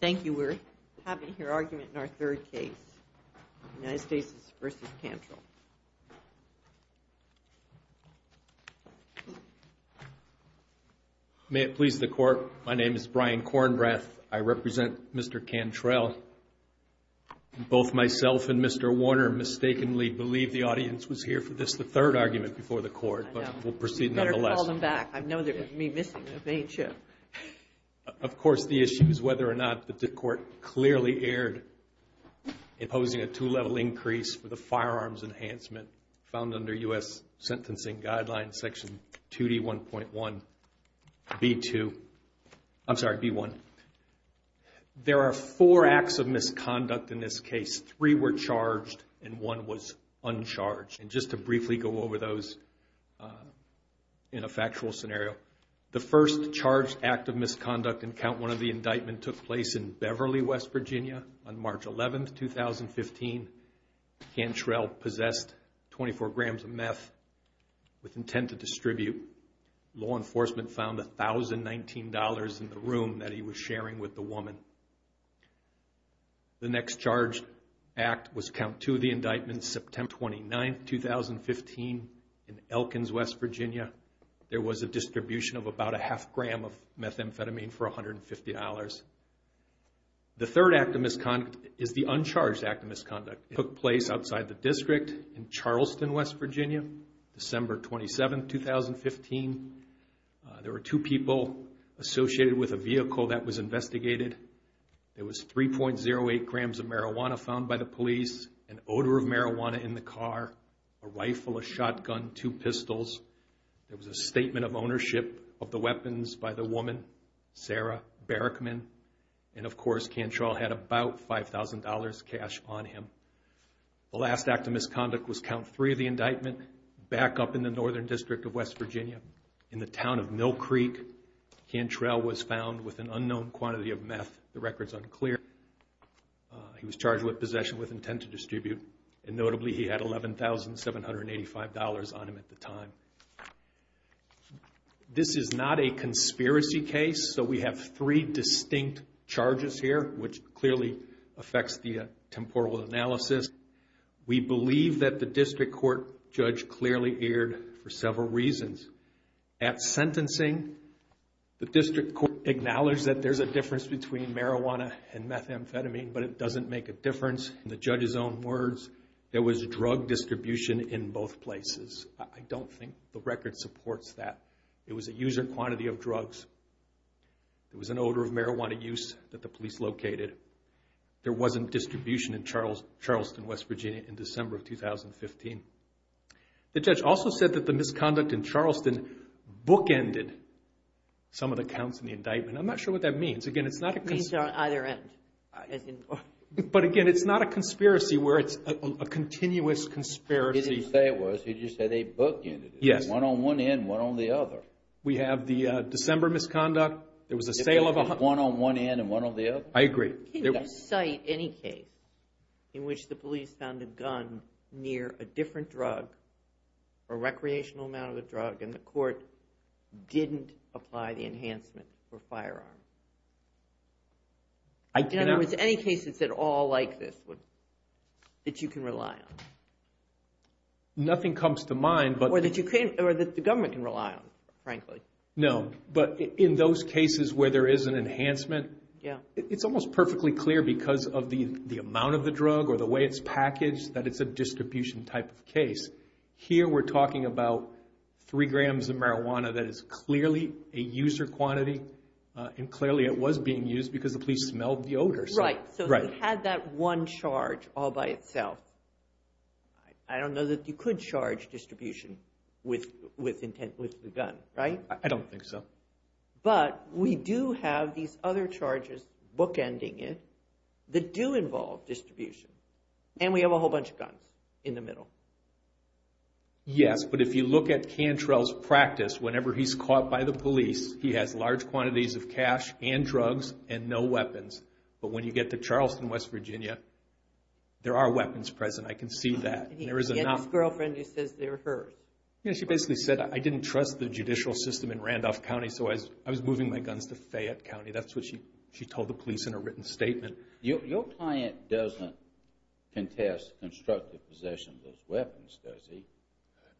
Thank you. We're having your argument in our third case, United States v. Cantrell. May it please the Court, my name is Brian Kornbrath. I represent Mr. Cantrell. Both myself and Mr. Warner mistakenly believed the audience was here for this, the third argument, before the Court. But we'll proceed nonetheless. You better call them back. I know they're going to be missing the main show. Of course, the issue is whether or not the Court clearly erred in posing a two-level increase for the firearms enhancement found under U.S. Sentencing Guidelines, Section 2D1.1, B2. I'm sorry, B1. There are four acts of misconduct in this case. Three were charged and one was uncharged. And just to briefly go over those in a factual scenario, the first charged act of misconduct in Count 1 of the indictment took place in Beverly, West Virginia on March 11, 2015. Cantrell possessed 24 grams of meth with intent to distribute. Law enforcement found $1,019 in the room that he was sharing with the woman. The next charged act was Count 2 of the indictment, September 29, 2015, in Elkins, West Virginia. There was a distribution of about a half gram of methamphetamine for $150. The third act of misconduct is the uncharged act of misconduct. It took place outside the district in Charleston, West Virginia, December 27, 2015. There were two people associated with a vehicle that was investigated. There was 3.08 grams of marijuana found by the police, an odor of marijuana in the car, a rifle, a shotgun, two pistols. There was a statement of ownership of the weapons by the woman, Sarah Barrickman. And, of course, Cantrell had about $5,000 cash on him. The last act of misconduct was Count 3 of the indictment, back up in the northern district of West Virginia in the town of Mill Creek. Cantrell was found with an unknown quantity of meth. The record is unclear. He was charged with possession with intent to distribute, and notably he had $11,785 on him at the time. This is not a conspiracy case, so we have three distinct charges here, which clearly affects the temporal analysis. We believe that the district court judge clearly erred for several reasons. At sentencing, the district court acknowledged that there's a difference between marijuana and methamphetamine, but it doesn't make a difference. In the judge's own words, there was drug distribution in both places. I don't think the record supports that. It was a user quantity of drugs. It was an odor of marijuana use that the police located. There wasn't distribution in Charleston, West Virginia, in December of 2015. The judge also said that the misconduct in Charleston bookended some of the counts in the indictment. I'm not sure what that means. It means they're on either end. But again, it's not a conspiracy where it's a continuous conspiracy. You didn't say it was. You just said they bookended it. Yes. One on one end, one on the other. We have the December misconduct. There was a sale of a... One on one end and one on the other. I agree. Can you cite any case in which the police found a gun near a different drug, a recreational amount of the drug, and the court didn't apply the enhancement for firearms? I cannot. In other words, any cases at all like this that you can rely on. Nothing comes to mind, but... Or that the government can rely on, frankly. No, but in those cases where there is an enhancement... Yeah. It's almost perfectly clear because of the amount of the drug or the way it's packaged that it's a distribution type of case. Here we're talking about three grams of marijuana that is clearly a user quantity, and clearly it was being used because the police smelled the odor. Right. Right. So it had that one charge all by itself. I don't know that you could charge distribution with the gun, right? I don't think so. But we do have these other charges bookending it that do involve distribution, and we have a whole bunch of guns in the middle. Yes, but if you look at Cantrell's practice, whenever he's caught by the police, he has large quantities of cash and drugs and no weapons. But when you get to Charleston, West Virginia, there are weapons present. I can see that. He had this girlfriend who says they were hers. Yeah, she basically said, I didn't trust the judicial system in Randolph County, so I was moving my guns to Fayette County. That's what she told the police in a written statement. Your client doesn't contest constructive possession of those weapons, does he?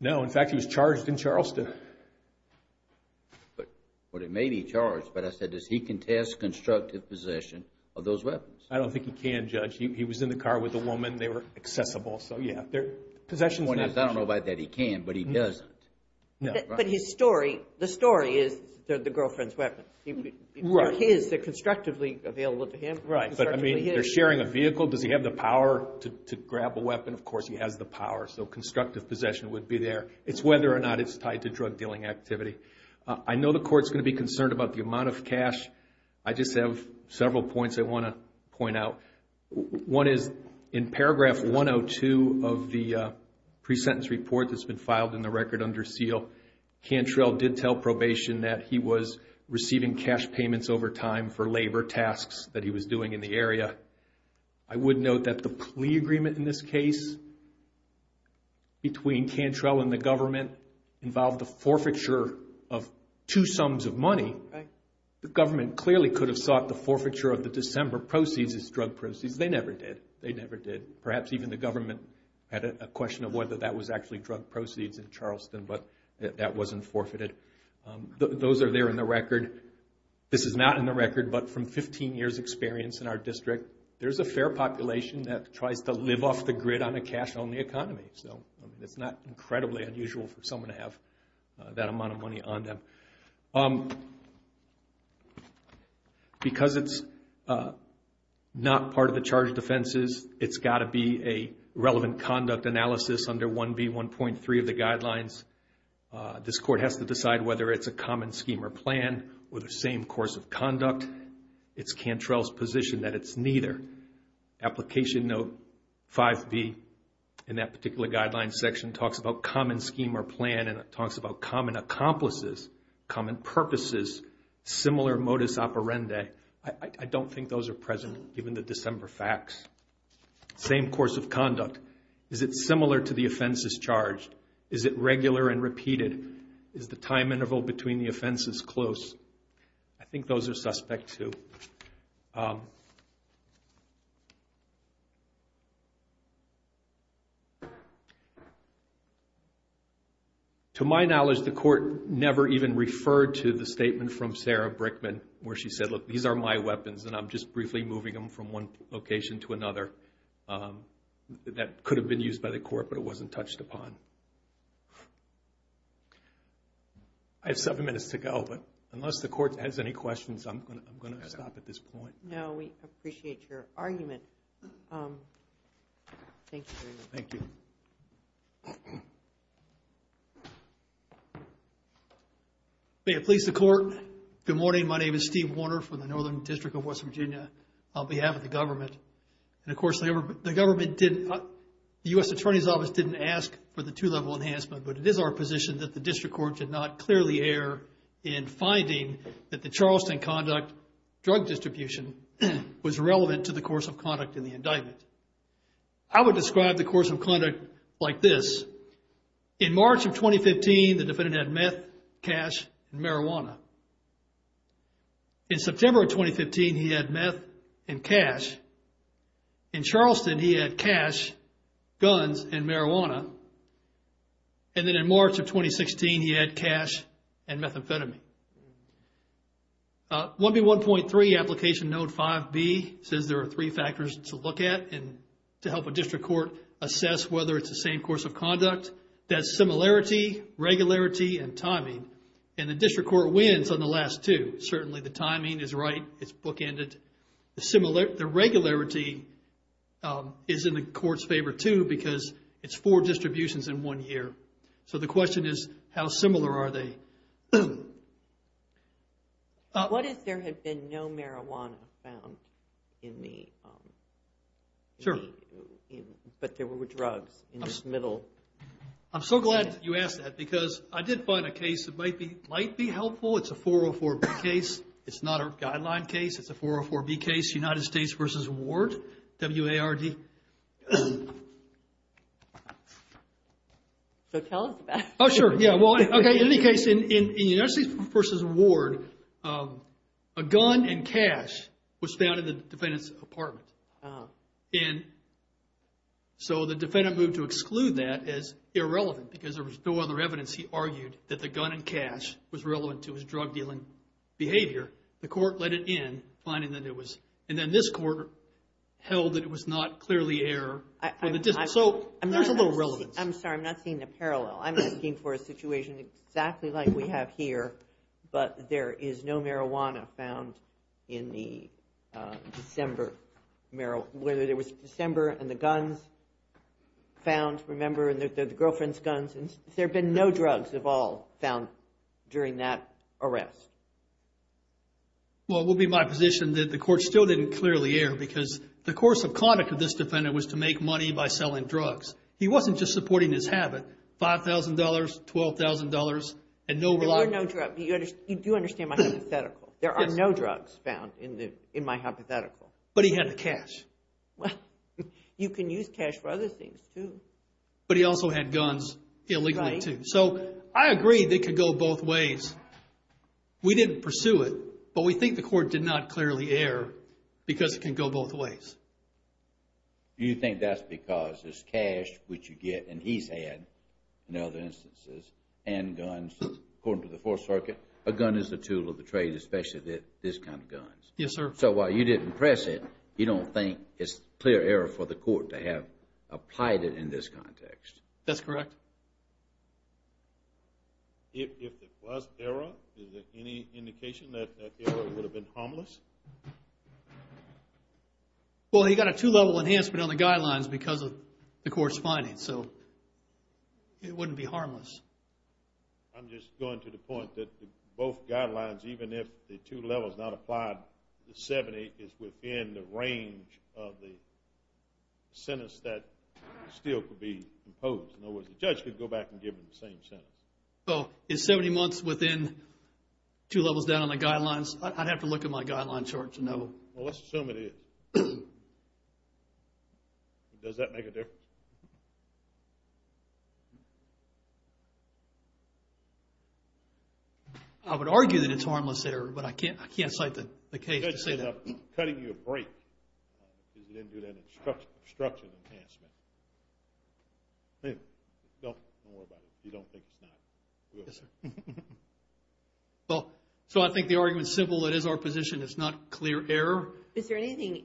No. In fact, he was charged in Charleston. But it may be charged, but I said, does he contest constructive possession of those weapons? I don't think he can, Judge. He was in the car with a woman. They were accessible. So, yeah. The point is, I don't know about that he can, but he doesn't. But his story, the story is they're the girlfriend's weapons. They're his. They're constructively available to him. Right. But, I mean, they're sharing a vehicle. Does he have the power to grab a weapon? Of course, he has the power, so constructive possession would be there. It's whether or not it's tied to drug dealing activity. I know the Court's going to be concerned about the amount of cash. I just have several points I want to point out. One is, in paragraph 102 of the pre-sentence report that's been filed in the record under seal, Cantrell did tell probation that he was receiving cash payments over time for labor tasks that he was doing in the area. I would note that the plea agreement in this case between Cantrell and the government involved the forfeiture of two sums of money. The government clearly could have sought the forfeiture of the December proceeds as drug proceeds. They never did. They never did. Perhaps even the government had a question of whether that was actually drug proceeds in Charleston, but that wasn't forfeited. Those are there in the record. This is not in the record, but from 15 years' experience in our district, there's a fair population that tries to live off the grid on a cash-only economy. It's not incredibly unusual for someone to have that amount of money on them. Because it's not part of the charge of defenses, it's got to be a relevant conduct analysis under 1B1.3 of the guidelines. This Court has to decide whether it's a common scheme or plan or the same course of conduct. It's Cantrell's position that it's neither. Application Note 5B in that particular guideline section talks about common scheme or plan, and it talks about common accomplices, common purposes, similar modus operandi. I don't think those are present given the December facts. Same course of conduct. Is it similar to the offenses charged? Is it regular and repeated? Is the time interval between the offenses close? I think those are suspect, too. To my knowledge, the Court never even referred to the statement from Sarah Brickman, where she said, look, these are my weapons, and I'm just briefly moving them from one location to another. That could have been used by the Court, but it wasn't touched upon. I have seven minutes to go, but unless the Court has any questions, I'm going to stop at this point. No, we appreciate your argument. Thank you very much. Thank you. May it please the Court, good morning. My name is Steve Warner from the Northern District of West Virginia on behalf of the government. And, of course, the government didn't, the U.S. Attorney's Office didn't ask for the two-level enhancement, but it is our position that the District Court should not clearly err in finding that the Charleston conduct, drug distribution was relevant to the course of conduct in the indictment. I would describe the course of conduct like this. In March of 2015, the defendant had meth, cash, and marijuana. In September of 2015, he had meth and cash. In Charleston, he had cash, guns, and marijuana. And then in March of 2016, he had cash and methamphetamine. 1B1.3 Application Note 5B says there are three factors to look at and to help a District Court assess whether it's the same course of conduct. That's similarity, regularity, and timing. And the District Court wins on the last two. Certainly, the timing is right. It's bookended. The regularity is in the Court's favor, too, because it's four distributions in one year. So the question is, how similar are they? What if there had been no marijuana found in the... Sure. But there were drugs in the middle? I'm so glad you asked that because I did find a case that might be helpful. It's a 404B case. It's not a guideline case. It's a 404B case, United States v. Ward. W-A-R-D. So tell us about it. Oh, sure. In any case, in United States v. Ward, a gun and cash was found in the defendant's apartment. And so the defendant moved to exclude that as irrelevant because there was no other evidence. He argued that the gun and cash was relevant to his drug dealing behavior. The Court let it in, finding that it was. And then this Court held that it was not clearly error for the District. So there's a little relevance. I'm sorry. I'm not seeing a parallel. I'm asking for a situation exactly like we have here, but there is no marijuana found in the December... whether there was December and the guns found, remember, and the girlfriend's guns. Has there been no drugs at all found during that arrest? Well, it would be my position that the Court still didn't clearly err because the course of conduct of this defendant was to make money by selling drugs. He wasn't just supporting his habit, $5,000, $12,000, and no... There were no drugs. You do understand my hypothetical. There are no drugs found in my hypothetical. But he had the cash. Well, you can use cash for other things, too. But he also had guns illegally, too. So I agree they could go both ways. We didn't pursue it, but we think the Court did not clearly err because it can go both ways. Do you think that's because it's cash, which you get, and he's had, in other instances, and guns, according to the Fourth Circuit? A gun is a tool of the trade, especially this kind of guns. Yes, sir. So while you didn't press it, you don't think it's clear error for the Court to have applied it in this context? That's correct. If there was error, is there any indication that that error would have been harmless? Well, he got a two-level enhancement on the guidelines because of the Court's findings. So it wouldn't be harmless. I'm just going to the point that both guidelines, even if the two levels are not applied, the 70 is within the range of the sentence that still could be imposed. In other words, the judge could go back and give him the same sentence. So is 70 months within two levels down on the guidelines? I'd have to look at my guideline chart to know. Well, let's assume it is. Does that make a difference? I would argue that it's harmless error, but I can't cite the case to say that. The judge ended up cutting you a break because you didn't do that instruction enhancement. Anyway, don't worry about it. You don't think it's not. Yes, sir. Well, so I think the argument is simple. It is our position. It's not clear error. Is there anything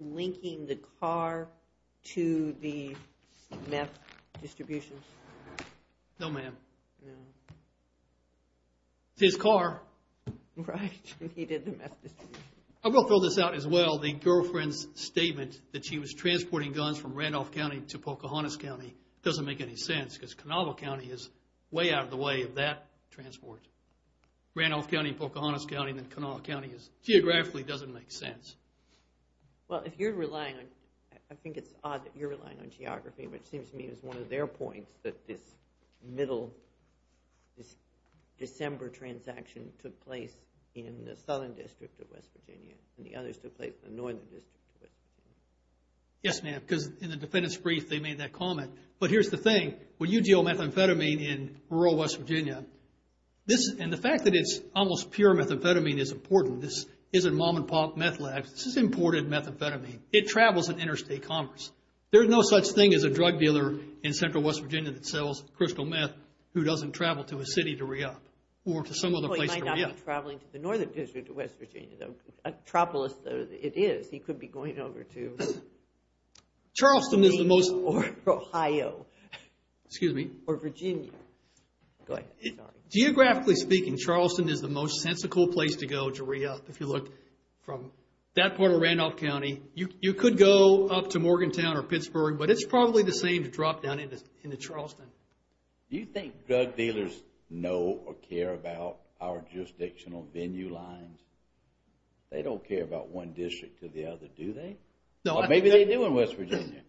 linking the car to the meth distribution? No, ma'am. No. It's his car. Right. He did the meth distribution. I will throw this out as well. The girlfriend's statement that she was transporting guns from Randolph County to Pocahontas County doesn't make any sense because Conovo County is way out of the way of that transport. Randolph County, Pocahontas County, and then Conovo County geographically doesn't make sense. Well, I think it's odd that you're relying on geography, which seems to me is one of their points that this middle, this December transaction took place in the southern district of West Virginia and the others took place in the northern district. Yes, ma'am. Because in the defendant's brief, they made that comment. But here's the thing. When you deal with methamphetamine in rural West Virginia, and the fact that it's almost pure methamphetamine is important. This isn't mom-and-pop meth labs. This is imported methamphetamine. It travels in interstate commerce. There's no such thing as a drug dealer in central West Virginia that sells crystal meth who doesn't travel to a city to re-up or to some other place to re-up. Well, he might not be traveling to the northern district of West Virginia. Atropolis, though, it is. He could be going over to... Charleston is the most... Or Ohio. Excuse me. Or Virginia. Go ahead. Geographically speaking, Charleston is the most sensical place to go to re-up. If you look from that part of Randolph County, you could go up to Morgantown or Pittsburgh, but it's probably the same to drop down into Charleston. Do you think drug dealers know or care about our jurisdictional venue lines? They don't care about one district to the other, do they? Or maybe they do in West Virginia.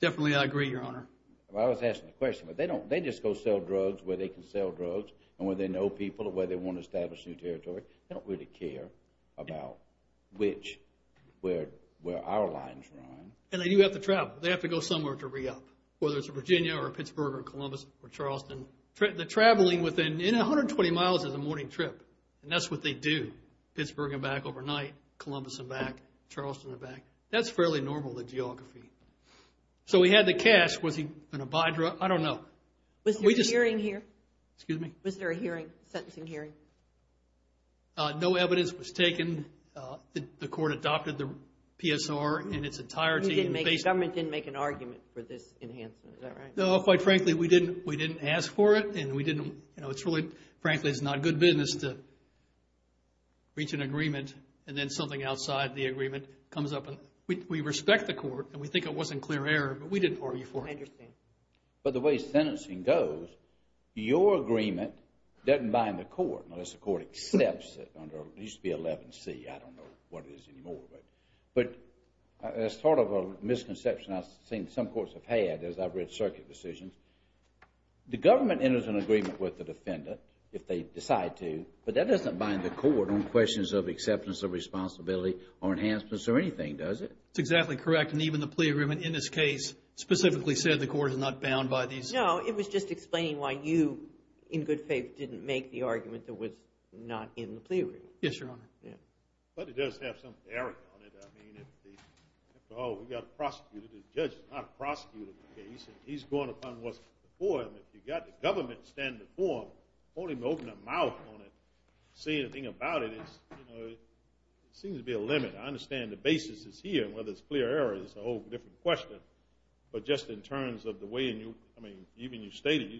Definitely, I agree, Your Honor. I was asking a question. They just go sell drugs where they can sell drugs and where they know people and where they want to establish new territory. They don't really care about where our lines run. And they do have to travel. They have to go somewhere to re-up, whether it's Virginia or Pittsburgh or Columbus or Charleston. The traveling within 120 miles is a morning trip, and that's what they do. Pittsburgh and back overnight, Columbus and back, Charleston and back. That's fairly normal, the geography. So he had the cash. Was he going to buy drugs? I don't know. Was there a hearing here? Excuse me. Was there a sentencing hearing? No evidence was taken. The court adopted the PSR in its entirety. The government didn't make an argument for this enhancement, is that right? No, quite frankly, we didn't ask for it. Frankly, it's not good business to reach an agreement and then something outside the agreement comes up. We respect the court, and we think it was in clear error, but we didn't argue for it. I understand. But the way sentencing goes, your agreement doesn't bind the court unless the court accepts it. It used to be 11C. I don't know what it is anymore. But as part of a misconception I've seen some courts have had, as I've read circuit decisions, the government enters an agreement with the defendant if they decide to, but that doesn't bind the court on questions of acceptance of responsibility or enhancements or anything, does it? That's exactly correct, and even the plea agreement in this case specifically said the court is not bound by these. No, it was just explaining why you, in good faith, didn't make the argument that was not in the plea agreement. Yes, Your Honor. But it does have some error on it. I mean, after all, we've got a prosecutor. The judge is not a prosecutor in this case, and he's going upon what's before him. If you've got the government standing before him, I don't want him to open his mouth on it, say anything about it. It seems to be a limit. I understand the basis is here, and whether it's clear error is a whole different question. But just in terms of the way in which you stated,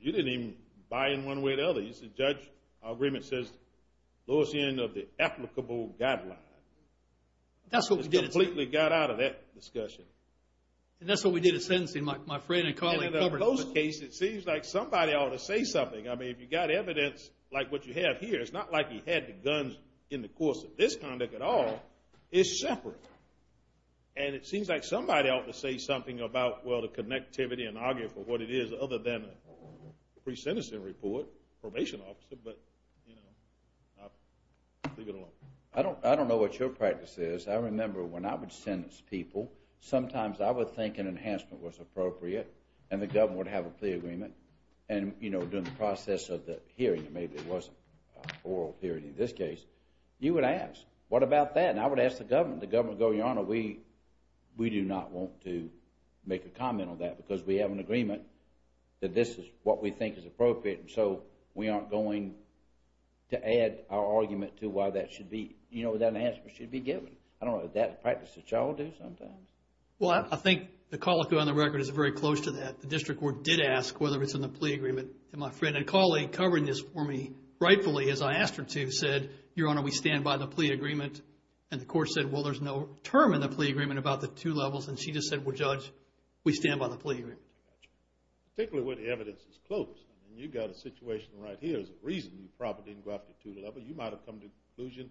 you didn't even buy in one way or the other. In both cases, the judge, our agreement says, lower the end of the applicable guideline. That's what we did. It completely got out of that discussion. And that's what we did at sentencing. My friend and colleague covered it. In both cases, it seems like somebody ought to say something. I mean, if you've got evidence like what you have here, it's not like he had the guns in the course of this conduct at all. It's separate. And it seems like somebody ought to say something about, well, the connectivity and argue for what it is, other than a pre-sentencing report, probation officer. But, you know, leave it alone. I don't know what your practice is. I remember when I would sentence people, sometimes I would think an enhancement was appropriate and the government would have a plea agreement. And, you know, during the process of the hearing, maybe it wasn't oral hearing in this case, you would ask, what about that? And I would ask the government. The government would go, Your Honor, we do not want to make a comment on that because we have an agreement that this is what we think is appropriate. And so we aren't going to add our argument to why that should be, you know, that enhancement should be given. I don't know, is that a practice that you all do sometimes? Well, I think the colloquy on the record is very close to that. The district court did ask whether it's in the plea agreement. And my friend and colleague covering this for me, rightfully, as I asked her to, said, Your Honor, we stand by the plea agreement. And the court said, well, there's no term in the plea agreement about the two levels. And she just said, well, Judge, we stand by the plea agreement. Particularly where the evidence is close. I mean, you've got a situation right here. There's a reason you probably didn't go after the two levels. You might have come to the conclusion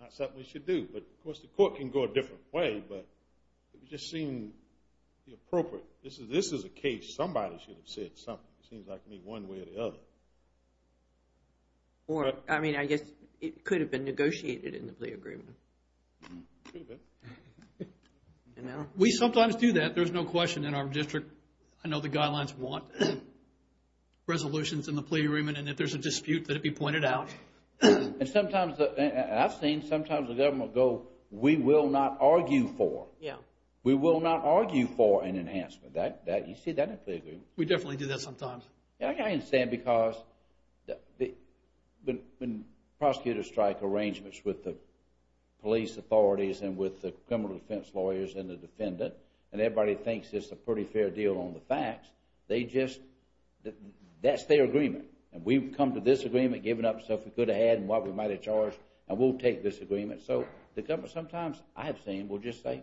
it's not something we should do. But, of course, the court can go a different way. But it just seemed appropriate. This is a case. Somebody should have said something. It seems like maybe one way or the other. Or, I mean, I guess it could have been negotiated in the plea agreement. Could have been. We sometimes do that. There's no question in our district. I know the guidelines want resolutions in the plea agreement. And if there's a dispute, let it be pointed out. And sometimes, I've seen, sometimes the government go, we will not argue for. Yeah. We will not argue for an enhancement. You see that in the plea agreement. We definitely do that sometimes. I understand because when prosecutors strike arrangements with the police authorities and with the criminal defense lawyers and the defendant, and everybody thinks it's a pretty fair deal on the facts, they just, that's their agreement. And we've come to this agreement, given up stuff we could have had and what we might have charged, and we'll take this agreement. So the government sometimes, I have seen, will just say,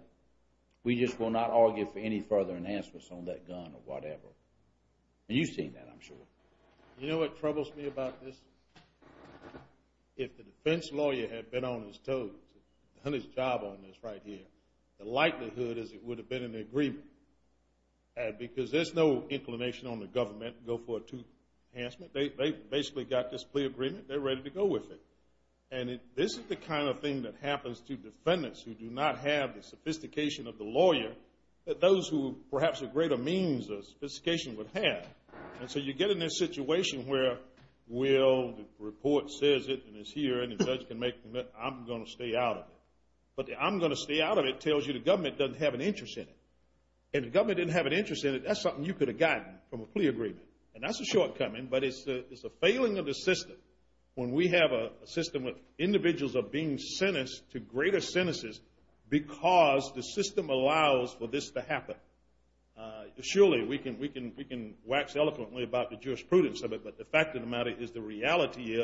we just will not argue for any further enhancements on that gun or whatever. And you've seen that, I'm sure. You know what troubles me about this? If the defense lawyer had been on his toes, done his job on this right here, the likelihood is it would have been an agreement because there's no inclination on the government to go for a two enhancement. They basically got this plea agreement. They're ready to go with it. And this is the kind of thing that happens to defendants who do not have the sophistication of the lawyer, that those who perhaps have greater means of sophistication would have. And so you get in this situation where, well, the report says it, and it's here, and the judge can make the commitment, I'm going to stay out of it. But the I'm going to stay out of it tells you the government doesn't have an interest in it. If the government didn't have an interest in it, that's something you could have gotten from a plea agreement. And that's a shortcoming, but it's a failing of the system when we have a system where individuals are being sentenced to greater sentences because the system allows for this to happen. Surely we can wax eloquently about the jurisprudence of it, but the fact of the matter is the reality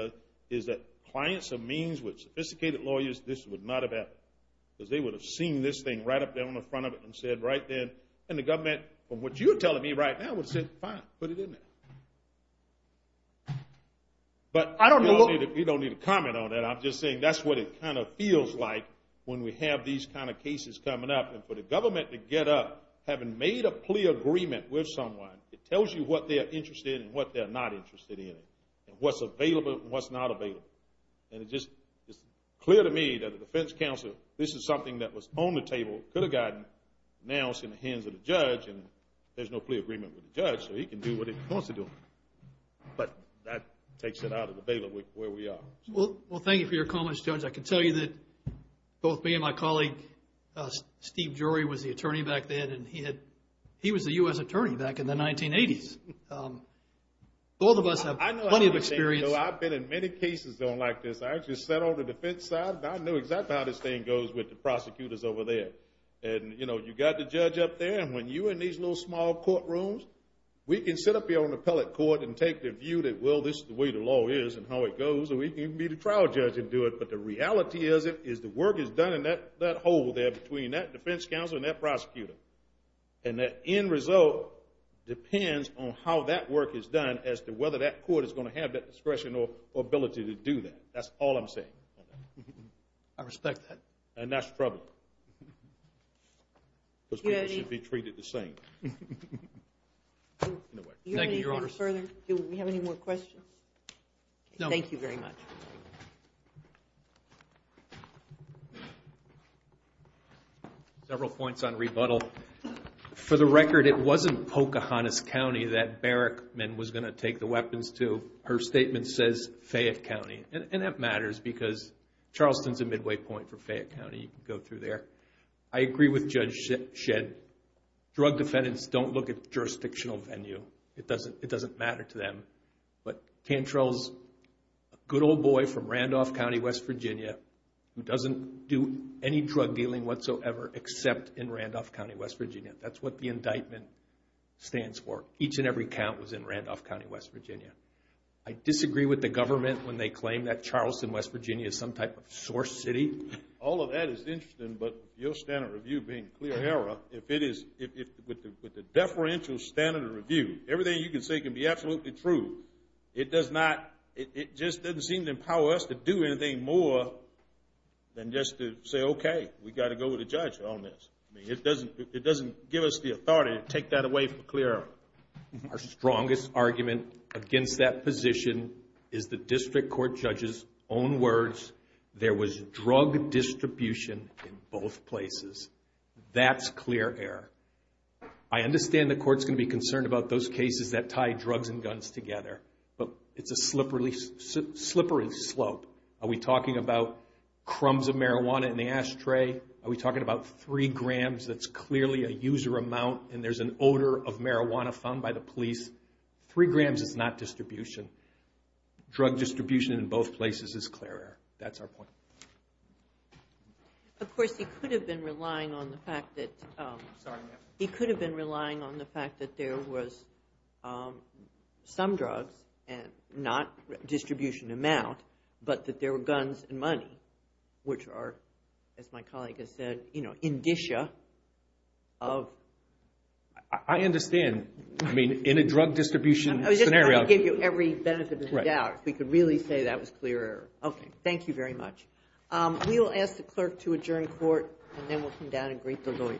is that clients of means with sophisticated lawyers, this would not have happened. Because they would have seen this thing right up there on the front of it and said right then, and the government, from what you're telling me right now, would have said fine, put it in there. But you don't need to comment on that. I'm just saying that's what it kind of feels like when we have these kind of cases coming up. And for the government to get up, having made a plea agreement with someone, it tells you what they're interested in and what they're not interested in, and what's available and what's not available. And it's clear to me that the defense counsel, this is something that was on the table, could have gotten, now it's in the hands of the judge, and there's no plea agreement with the judge, so he can do what he wants to do. But that takes it out of the bailiff where we are. Well, thank you for your comments, Judge. I can tell you that both me and my colleague, Steve Jory, was the attorney back then, and he was the U.S. attorney back in the 1980s. Both of us have plenty of experience. I've been in many cases like this. I actually sat on the defense side, and I knew exactly how this thing goes with the prosecutors over there. And, you know, you've got the judge up there, and when you're in these little small courtrooms, we can sit up here on the appellate court and take the view that, well, this is the way the law is and how it goes, and we can be the trial judge and do it. But the reality is the work is done in that hole there between that defense counsel and that prosecutor. And that end result depends on how that work is done as to whether that court is going to have that discretion or ability to do that. That's all I'm saying. I respect that. And that's troubling. Those people should be treated the same. Thank you, Your Honor. Do we have any more questions? No. Thank you very much. Several points on rebuttal. For the record, it wasn't Pocahontas County that Barrickman was going to take the weapons to. Her statement says Fayette County, and that matters because Charleston is a midway point for Fayette County. You can go through there. I agree with Judge Shedd. Drug defendants don't look at jurisdictional venue. It doesn't matter to them. But Cantrell's a good old boy from Randolph County, West Virginia, who doesn't do any drug dealing whatsoever except in Randolph County, West Virginia. That's what the indictment stands for. Each and every count was in Randolph County, West Virginia. I disagree with the government when they claim that Charleston, West Virginia, is some type of source city. All of that is interesting, but your standard review being clear error, with the deferential standard review, everything you can say can be absolutely true. It just doesn't seem to empower us to do anything more than just to say, okay, we've got to go with the judge on this. It doesn't give us the authority to take that away from clear error. Our strongest argument against that position is the district court judge's own words. There was drug distribution in both places. That's clear error. I understand the court's going to be concerned about those cases that tie drugs and guns together, but it's a slippery slope. Are we talking about crumbs of marijuana in the ashtray? Are we talking about three grams that's clearly a user amount, and there's an odor of marijuana found by the police? Three grams is not distribution. Drug distribution in both places is clear error. That's our point. Of course, he could have been relying on the fact that there was some drugs, not distribution amount, but that there were guns and money, which are, as my colleague has said, indicia of... I understand. I mean, in a drug distribution scenario. I was just trying to give you every benefit of the doubt. If we could really say that was clear error. Okay. Thank you very much. We will ask the clerk to adjourn court, and then we'll come down and greet the lawyers.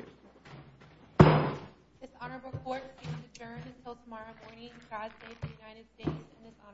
This honorable court is adjourned until tomorrow morning. God save the United States and this honorable court.